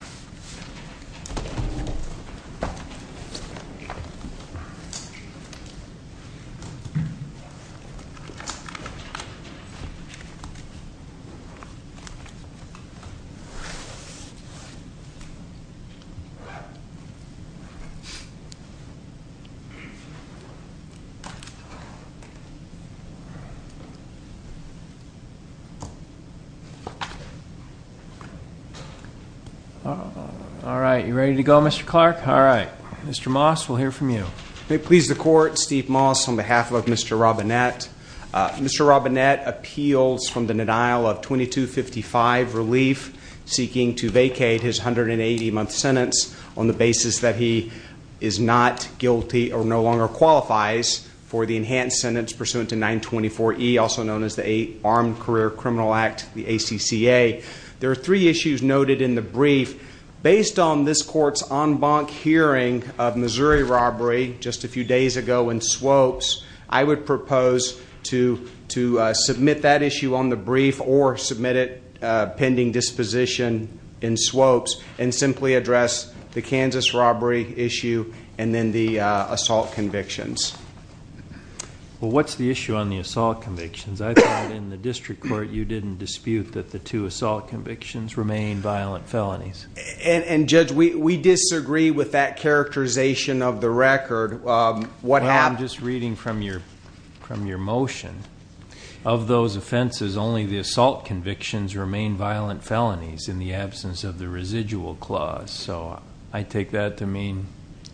Attorney General William R. Robinsett v. U.S. Department of Justice All right. You ready to go, Mr. Clark? All right. Mr. Moss, we'll hear from you. May it please the Court, Steve Moss on behalf of Mr. Robinett. Mr. Robinett appeals from the denial of 2255 relief, seeking to vacate his 180-month sentence on the basis that he is not guilty or no longer qualifies for the enhanced sentence pursuant to 924E, also known as the Armed Career Criminal Act, the ACCA. There are three issues noted in the brief. Based on this Court's en banc hearing of Missouri robbery just a few days ago in Swopes, I would propose to submit that issue on the brief or submit it pending disposition in Swopes and simply address the Kansas robbery issue and then the assault convictions. Well, what's the issue on the assault convictions? I thought in the district court you didn't dispute that the two assault convictions remain violent felonies. And, Judge, we disagree with that characterization of the record. Well, I'm just reading from your motion. Of those offenses, only the assault convictions remain violent felonies in the absence of the residual clause. So I take that to mean,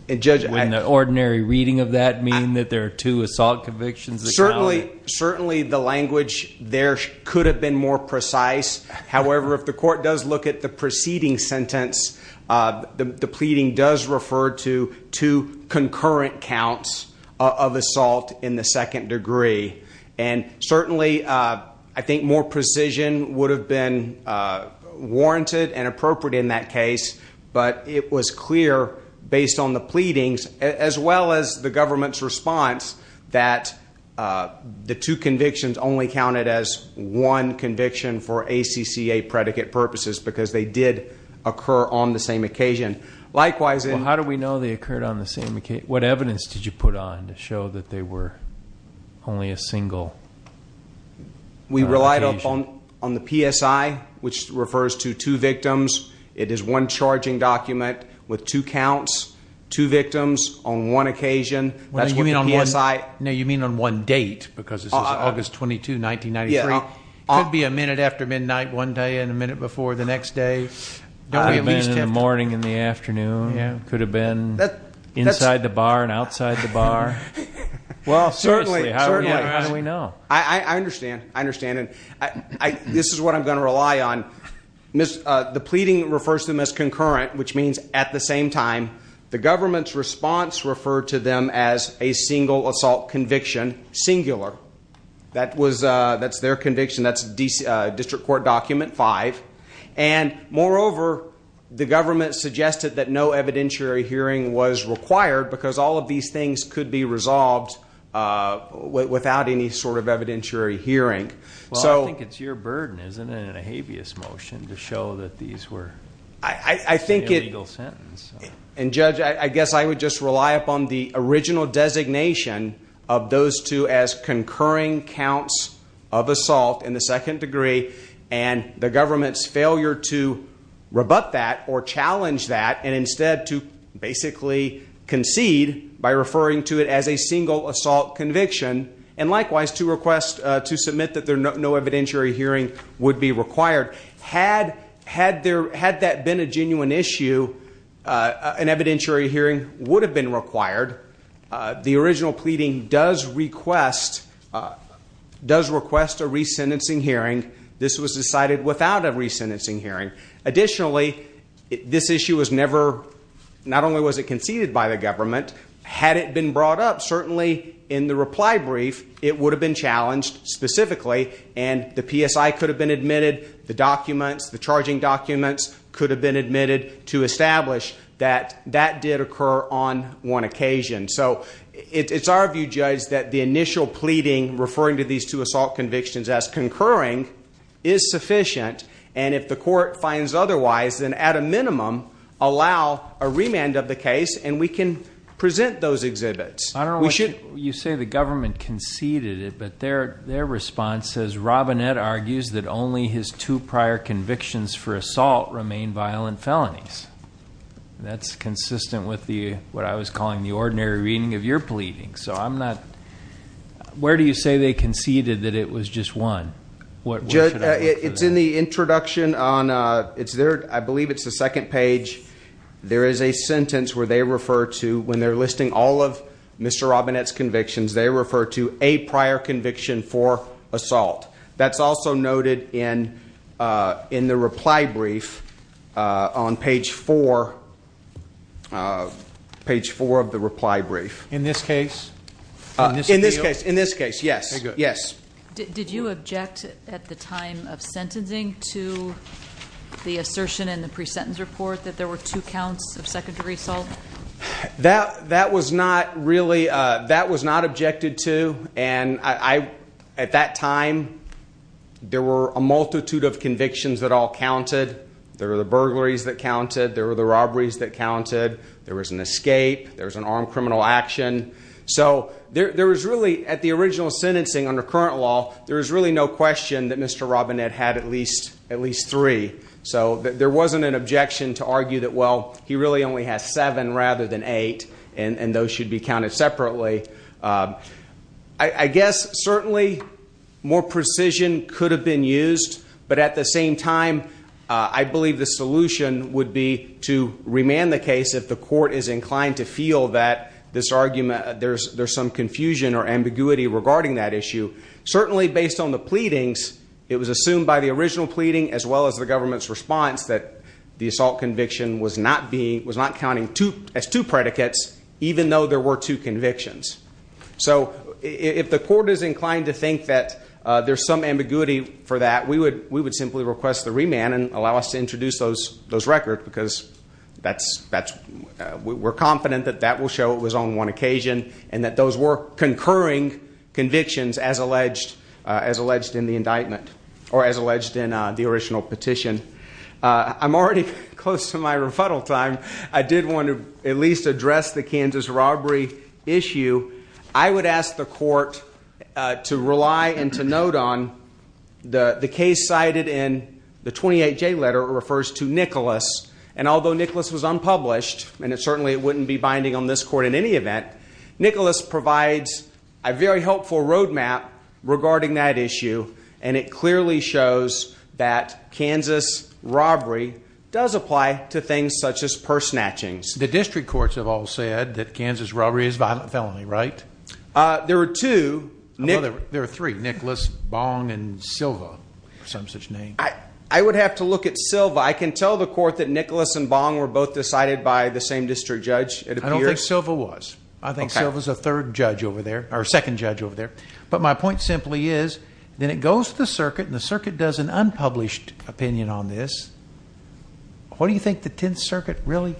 wouldn't the ordinary reading of that mean that there are two assault convictions? Certainly the language there could have been more precise. However, if the court does look at the preceding sentence, the pleading does refer to two concurrent counts of assault in the second degree. And certainly I think more precision would have been warranted and appropriate in that case, but it was clear based on the pleadings as well as the government's response that the two convictions only counted as one conviction for ACCA predicate purposes because they did occur on the same occasion. Likewise in- Well, how do we know they occurred on the same occasion? What evidence did you put on to show that they were only a single occasion? We relied upon the PSI, which refers to two victims. It is one charging document with two counts, two victims on one occasion. That's what the PSI- No, you mean on one date because this is August 22, 1993. It could be a minute after midnight one day and a minute before the next day. It could have been in the morning and the afternoon. It could have been inside the bar and outside the bar. Well, certainly. How do we know? I understand. I understand. And this is what I'm going to rely on. The pleading refers to them as concurrent, which means at the same time, the government's response referred to them as a single assault conviction, singular. That's their conviction. That's District Court Document 5. Moreover, the government suggested that no evidentiary hearing was required because all of these things could be resolved without any sort of evidentiary hearing. Well, I think it's your burden, isn't it, in a habeas motion to show that these were- I think it- It's an illegal sentence. And, Judge, I guess I would just rely upon the original designation of those two as concurring counts of assault in the second degree and the government's failure to rebut that or challenge that and instead to basically concede by referring to it as a single assault conviction and likewise to submit that no evidentiary hearing would be required. Had that been a genuine issue, an evidentiary hearing would have been required. The original pleading does request a resentencing hearing. This was decided without a resentencing hearing. Additionally, this issue was never- not only was it conceded by the government, had it been brought up certainly in the reply brief, it would have been challenged specifically and the PSI could have been admitted, the documents, the charging documents could have been admitted to establish that that did occur on one occasion. So it's our view, Judge, that the initial pleading referring to these two assault convictions as concurring is sufficient, and if the court finds otherwise, then at a minimum allow a remand of the case and we can present those exhibits. I don't know why you say the government conceded it, but their response says, Robinette argues that only his two prior convictions for assault remain violent felonies. That's consistent with what I was calling the ordinary reading of your pleading. So I'm not- where do you say they conceded that it was just one? It's in the introduction on- I believe it's the second page. There is a sentence where they refer to- when they're listing all of Mr. Robinette's convictions, they refer to a prior conviction for assault. That's also noted in the reply brief on page 4 of the reply brief. In this case? In this case, yes. Very good. Did you object at the time of sentencing to the assertion in the pre-sentence report that there were two counts of secondary assault? That was not really- that was not objected to, and at that time there were a multitude of convictions that all counted. There were the burglaries that counted. There were the robberies that counted. There was an escape. There was an armed criminal action. So there was really, at the original sentencing under current law, there was really no question that Mr. Robinette had at least three. So there wasn't an objection to argue that, well, he really only has seven rather than eight, and those should be counted separately. I guess certainly more precision could have been used, but at the same time I believe the solution would be to remand the case if the court is inclined to feel that there's some confusion or ambiguity regarding that issue. Certainly based on the pleadings, it was assumed by the original pleading as well as the government's response that the assault conviction was not counting as two predicates, even though there were two convictions. So if the court is inclined to think that there's some ambiguity for that, we would simply request the remand and allow us to introduce those records because we're confident that that will show it was on one occasion and that those were concurring convictions as alleged in the indictment or as alleged in the original petition. I'm already close to my rebuttal time. I did want to at least address the Kansas robbery issue. I would ask the court to rely and to note on the case cited in the 28J letter where it refers to Nicholas, and although Nicholas was unpublished and it certainly wouldn't be binding on this court in any event, Nicholas provides a very helpful road map regarding that issue, and it clearly shows that Kansas robbery does apply to things such as purse snatchings. The district courts have all said that Kansas robbery is a violent felony, right? There are two. There are three, Nicholas, Bong, and Silva, some such name. I would have to look at Silva. I can tell the court that Nicholas and Bong were both decided by the same district judge. I don't think Silva was. I think Silva's a third judge over there, or second judge over there. But my point simply is, then it goes to the circuit, and the circuit does an unpublished opinion on this. What do you think the Tenth Circuit really?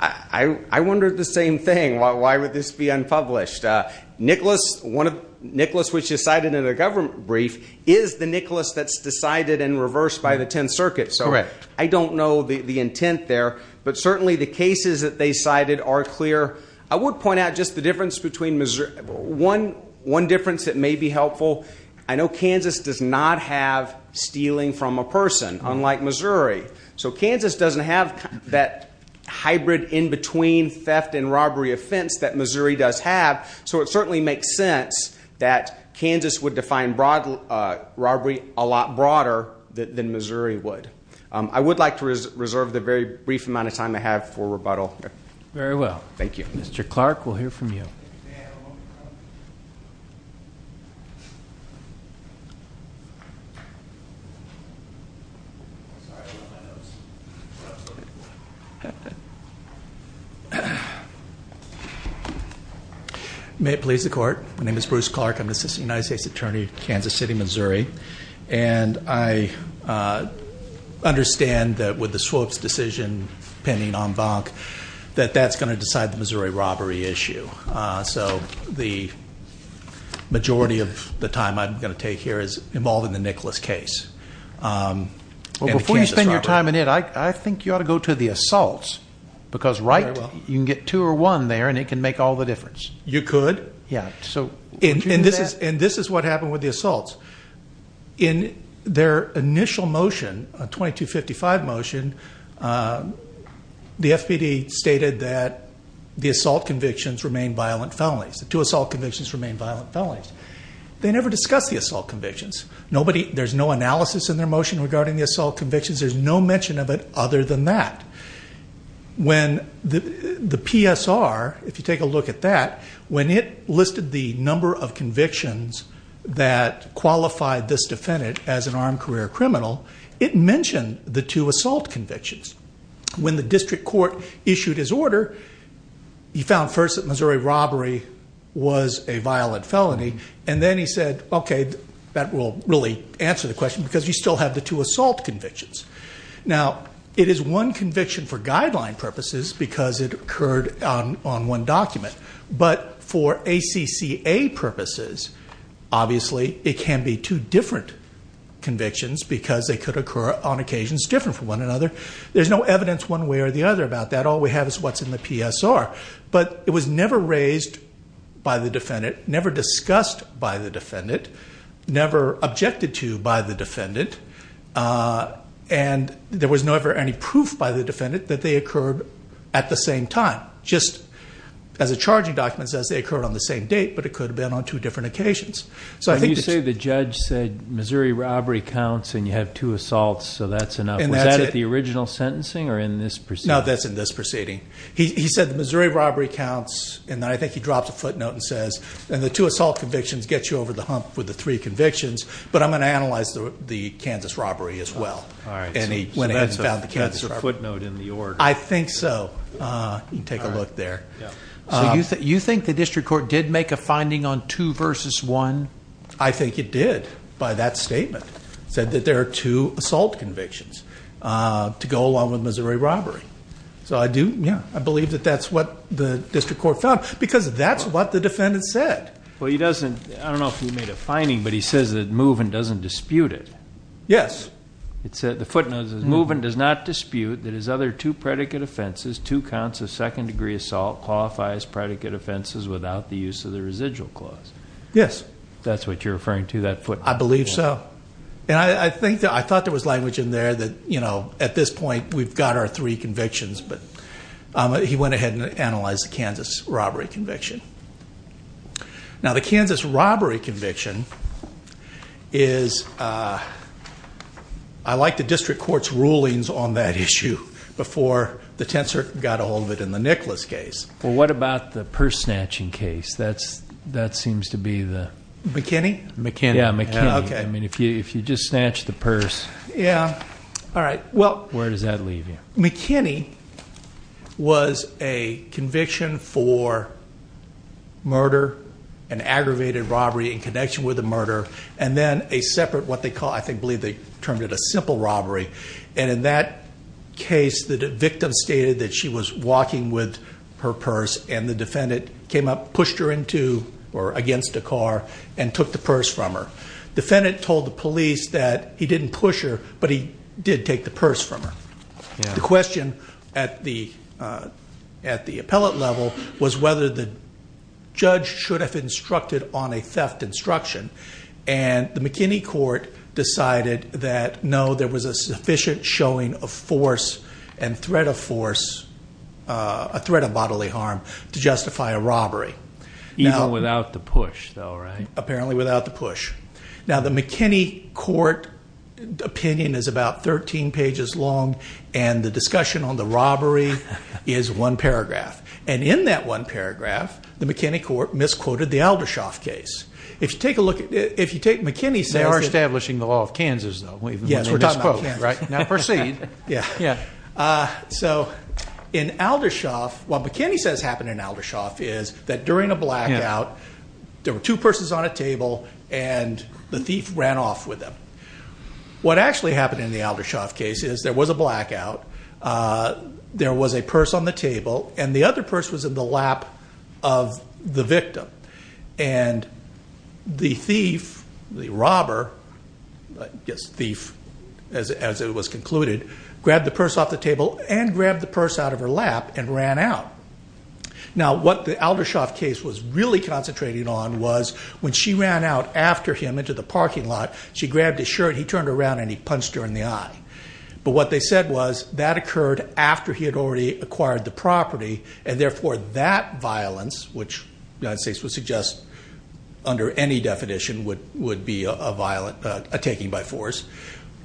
I wondered the same thing. Why would this be unpublished? Nicholas, which is cited in a government brief, is the Nicholas that's decided and reversed by the Tenth Circuit, so I don't know the intent there. But certainly the cases that they cited are clear. I would point out just the difference between Missouri. One difference that may be helpful, I know Kansas does not have stealing from a person, unlike Missouri. So Kansas doesn't have that hybrid in-between theft and robbery offense that Missouri does have, so it certainly makes sense that Kansas would define robbery a lot broader than Missouri would. I would like to reserve the very brief amount of time I have for rebuttal. Very well. Thank you. Mr. Clark, we'll hear from you. May it please the Court. My name is Bruce Clark. I'm an assistant United States attorney in Kansas City, Missouri, and I understand that with the Swoap's decision pending en banc that that's going to decide the Missouri robbery issue. So the majority of the time I'm going to take here is involved in the Nicholas case and the Kansas robbery. Well, before you spend your time in it, I think you ought to go to the assaults, because right? You can get two or one there, and it can make all the difference. You could. Yeah. And this is what happened with the assaults. In their initial motion, a 2255 motion, the FPD stated that the assault convictions remain violent felonies. The two assault convictions remain violent felonies. They never discussed the assault convictions. There's no analysis in their motion regarding the assault convictions. There's no mention of it other than that. The PSR, if you take a look at that, when it listed the number of convictions that qualified this defendant as an armed career criminal, it mentioned the two assault convictions. When the district court issued his order, he found first that Missouri robbery was a violent felony, and then he said, okay, that will really answer the question, because you still have the two assault convictions. Now, it is one conviction for guideline purposes because it occurred on one document. But for ACCA purposes, obviously, it can be two different convictions because they could occur on occasions different from one another. There's no evidence one way or the other about that. All we have is what's in the PSR. But it was never raised by the defendant, never discussed by the defendant, never objected to by the defendant. And there was never any proof by the defendant that they occurred at the same time, just as a charging document says they occurred on the same date, but it could have been on two different occasions. So I think that's- You say the judge said Missouri robbery counts and you have two assaults, so that's enough. And that's it. Was that at the original sentencing or in this proceeding? No, that's in this proceeding. He said the Missouri robbery counts, and I think he dropped a footnote and says, and the two assault convictions get you over the hump with the three convictions, but I'm going to analyze the Kansas robbery as well. All right. And he went ahead and found the Kansas robbery. So that's a footnote in the order. I think so. You can take a look there. So you think the district court did make a finding on two versus one? I think it did by that statement. It said that there are two assault convictions to go along with Missouri robbery. So I do, yeah, I believe that that's what the district court found, because that's what the defendant said. Well, he doesn't, I don't know if he made a finding, but he says that Moven doesn't dispute it. Yes. The footnote says, Moven does not dispute that his other two predicate offenses, two counts of second degree assault, qualify as predicate offenses without the use of the residual clause. Yes. If that's what you're referring to, that footnote. I believe so. I thought there was language in there that, you know, at this point we've got our three convictions, but he went ahead and analyzed the Kansas robbery conviction. Now, the Kansas robbery conviction is, I like the district court's rulings on that issue before the Tensor got a hold of it in the Nicholas case. Well, what about the purse snatching case? That seems to be the... McKinney? McKinney. Yeah, McKinney. I mean, if you just snatch the purse... Yeah. All right. Where does that leave you? McKinney was a conviction for murder, an aggravated robbery in connection with a murder, and then a separate, what they call, I believe they termed it a simple robbery. And in that case, the victim stated that she was walking with her purse, and the defendant came up, pushed her into or against a car, and took the purse from her. The defendant told the police that he didn't push her, but he did take the purse from her. The question at the appellate level was whether the judge should have instructed on a theft instruction, and the McKinney court decided that, no, there was a sufficient showing of force and threat of force, a threat of bodily harm, to justify a robbery. Even without the push, though, right? Apparently without the push. Now, the McKinney court opinion is about 13 pages long, and the discussion on the robbery is one paragraph. And in that one paragraph, the McKinney court misquoted the Aldershoff case. If you take a look at it, if you take McKinney's... They are establishing the law of Kansas, though. Yes, we're talking about Kansas. Now proceed. So in Aldershoff, what McKinney says happened in Aldershoff is that during a blackout, there were two purses on a table, and the thief ran off with them. What actually happened in the Aldershoff case is there was a blackout, there was a purse on the table, and the other purse was in the lap of the victim. And the thief, the robber, I guess thief as it was concluded, grabbed the purse off the table and grabbed the purse out of her lap and ran out. Now what the Aldershoff case was really concentrating on was when she ran out after him into the parking lot, she grabbed his shirt, he turned around, and he punched her in the eye. But what they said was that occurred after he had already acquired the property, and therefore that violence, which the United States would suggest under any definition would be a violent, a taking by force,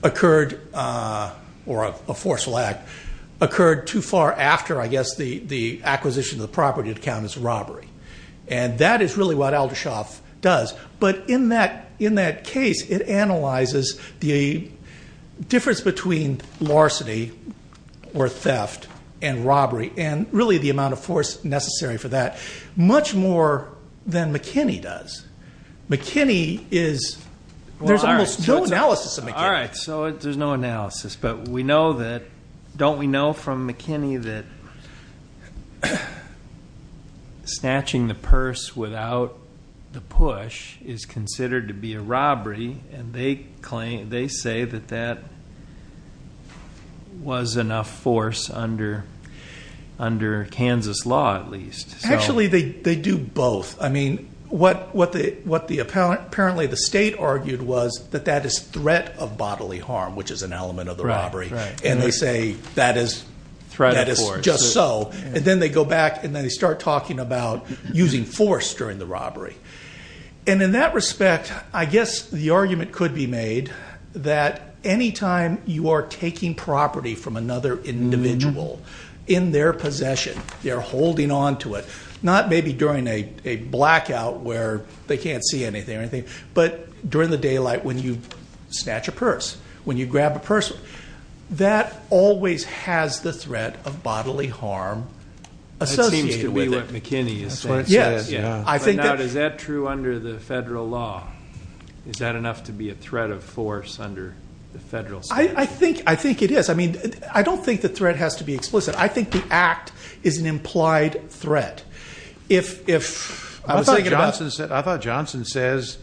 occurred, or a forceful act, occurred too far after, I guess, the acquisition of the property to count as robbery. And that is really what Aldershoff does. But in that case, it analyzes the difference between larceny or theft and robbery, and really the amount of force necessary for that, much more than McKinney does. McKinney is, there's almost no analysis of McKinney. All right, so there's no analysis. But we know that, don't we know from McKinney that snatching the purse without the push is considered to be a robbery, and they say that that was enough force under Kansas law, at least. Actually, they do both. I mean, what apparently the state argued was that that is threat of bodily harm, which is an element of the robbery. And they say that is just so. And then they go back, and then they start talking about using force during the robbery. And in that respect, I guess the argument could be made that any time you are taking property from another individual in their possession, they're holding on to it, not maybe during a blackout where they can't see anything or anything, but during the daylight when you snatch a purse, when you grab a purse. That always has the threat of bodily harm associated with it. That seems to be what McKinney is saying. Yes. But now, is that true under the federal law? Is that enough to be a threat of force under the federal statute? I think it is. I mean, I don't think the threat has to be explicit. I think the act is an implied threat. I thought Johnson says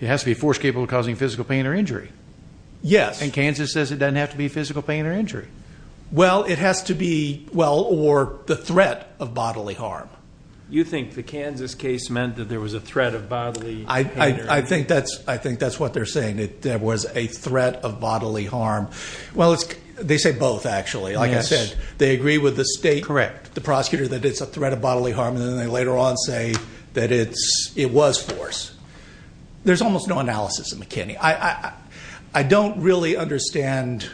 it has to be force capable of causing physical pain or injury. Yes. And Kansas says it doesn't have to be physical pain or injury. Well, it has to be, well, or the threat of bodily harm. You think the Kansas case meant that there was a threat of bodily harm? I think that's what they're saying, that there was a threat of bodily harm. Well, they say both, actually. Like I said, they agree with the state, the prosecutor, that it's a threat of bodily harm, and then they later on say that it was force. There's almost no analysis of McKinney. I don't really understand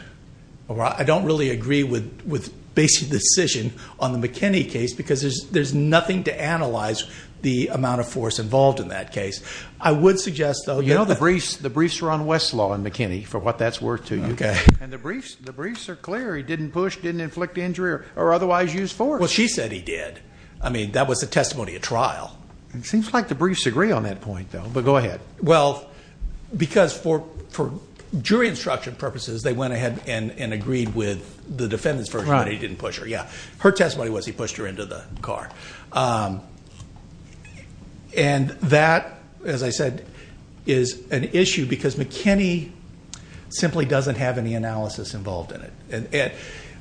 or I don't really agree with basic decision on the McKinney case because there's nothing to analyze the amount of force involved in that case. I would suggest, though, that the briefs are on Westlaw and McKinney, for what that's worth to you. Okay. And the briefs are clear. He didn't push, didn't inflict injury, or otherwise use force. Well, she said he did. I mean, that was a testimony at trial. It seems like the briefs agree on that point, though. But go ahead. Well, because for jury instruction purposes, they went ahead and agreed with the defendant's version that he didn't push her. Her testimony was he pushed her into the car. And that, as I said, is an issue because McKinney simply doesn't have any analysis involved in it.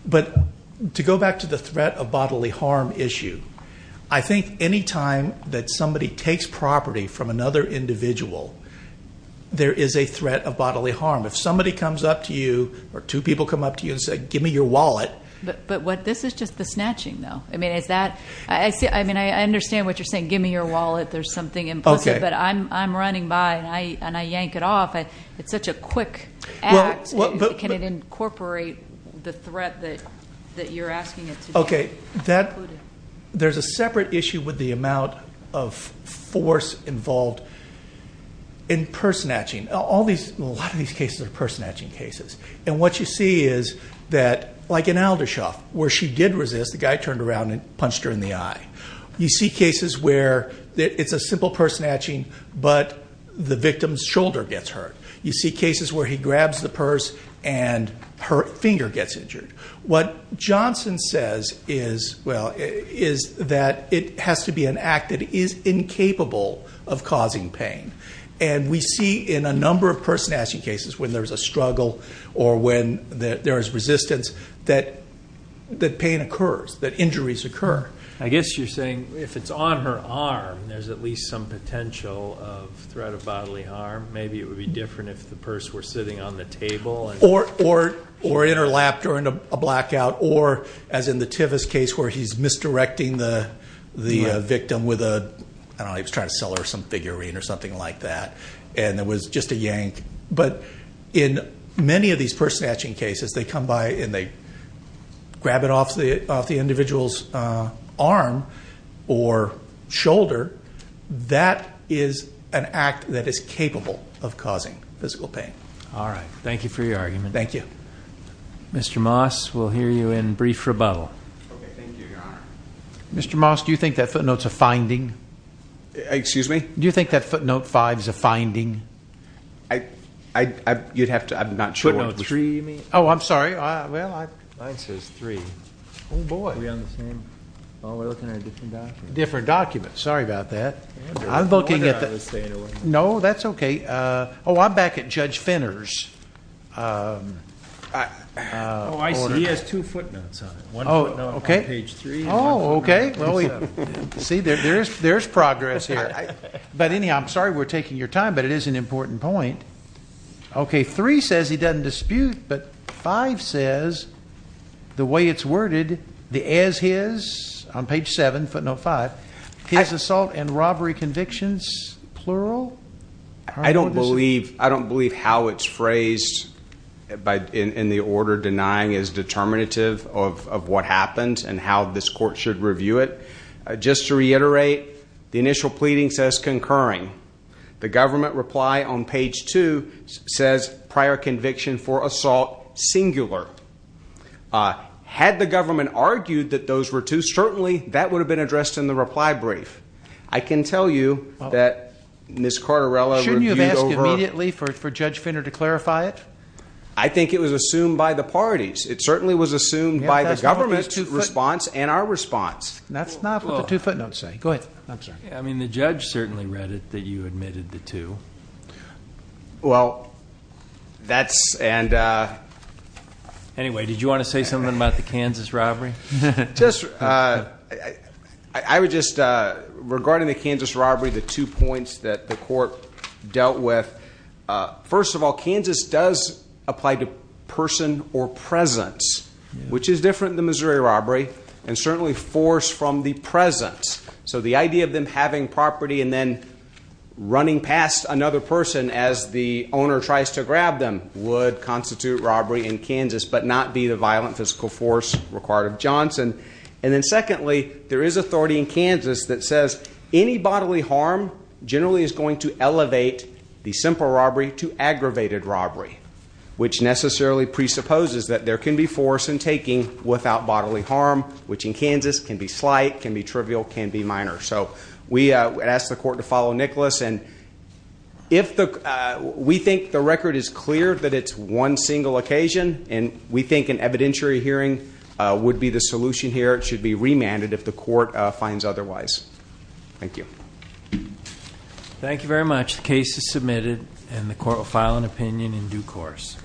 But to go back to the threat of bodily harm issue, I think any time that somebody takes property from another individual, there is a threat of bodily harm. If somebody comes up to you or two people come up to you and say, give me your wallet. But this is just the snatching, though. I mean, I understand what you're saying, give me your wallet, there's something implicit. But I'm running by and I yank it off. It's such a quick act. Can it incorporate the threat that you're asking it to do? Okay, there's a separate issue with the amount of force involved in purse snatching. A lot of these cases are purse snatching cases. And what you see is that, like in Aldershoff, where she did resist, the guy turned around and punched her in the eye. You see cases where it's a simple purse snatching, but the victim's shoulder gets hurt. You see cases where he grabs the purse and her finger gets injured. What Johnson says is that it has to be an act that is incapable of causing pain. And we see in a number of purse snatching cases, when there's a struggle or when there is resistance, that pain occurs, that injuries occur. I guess you're saying if it's on her arm, there's at least some potential of threat of bodily harm. Maybe it would be different if the purse were sitting on the table. Or in her lap during a blackout. Or, as in the Tivis case where he's misdirecting the victim with a, I don't know, he was trying to sell her some figurine or something like that. And it was just a yank. But in many of these purse snatching cases, they come by and they grab it off the individual's arm or shoulder. That is an act that is capable of causing physical pain. All right. Thank you for your argument. Thank you. Mr. Moss, we'll hear you in brief rebuttal. Okay. Thank you, Your Honor. Mr. Moss, do you think that footnote's a finding? Excuse me? Do you think that footnote five's a finding? You'd have to, I'm not sure. Footnote three, you mean? Oh, I'm sorry. Well, I- Mine says three. Oh, boy. Are we on the same? Oh, we're looking at a different document. Different document. Sorry about that. I'm looking at the- No wonder I was staying away. No, that's okay. Oh, I'm back at Judge Finner's. Oh, I see. He has two footnotes on it. One footnote on page three. Oh, okay. See, there's progress here. But anyhow, I'm sorry we're taking your time, but it is an important point. Okay, three says he doesn't dispute, but five says the way it's worded, the as his, on page seven, footnote five, his assault and robbery convictions, plural? I don't believe how it's phrased in the order. Denying is determinative of what happens and how this court should review it. Just to reiterate, the initial pleading says concurring. The government reply on page two says prior conviction for assault, singular. Had the government argued that those were two, certainly that would have been addressed in the reply brief. I can tell you that Ms. Carterella reviewed over. Shouldn't you have asked immediately for Judge Finner to clarify it? I think it was assumed by the parties. It certainly was assumed by the government response and our response. That's not what the two footnotes say. Go ahead. I'm sorry. I mean, the judge certainly read it that you admitted the two. Well, that's and. Anyway, did you want to say something about the Kansas robbery? I would just, regarding the Kansas robbery, the two points that the court dealt with. First of all, Kansas does apply to person or presence, which is different than Missouri robbery and certainly force from the presence. So the idea of them having property and then running past another person as the owner tries to grab them would constitute robbery in Kansas, but not be the violent physical force required of Johnson. And then secondly, there is authority in Kansas that says any bodily harm generally is going to elevate the simple robbery to aggravated robbery, which necessarily presupposes that there can be force in taking without bodily harm, which in Kansas can be slight, can be trivial, can be minor. So we ask the court to follow Nicholas. And if we think the record is clear that it's one single occasion and we think an evidentiary hearing would be the solution here, it should be remanded if the court finds otherwise. Thank you. Thank you very much. The case is submitted and the court will file an opinion in due course.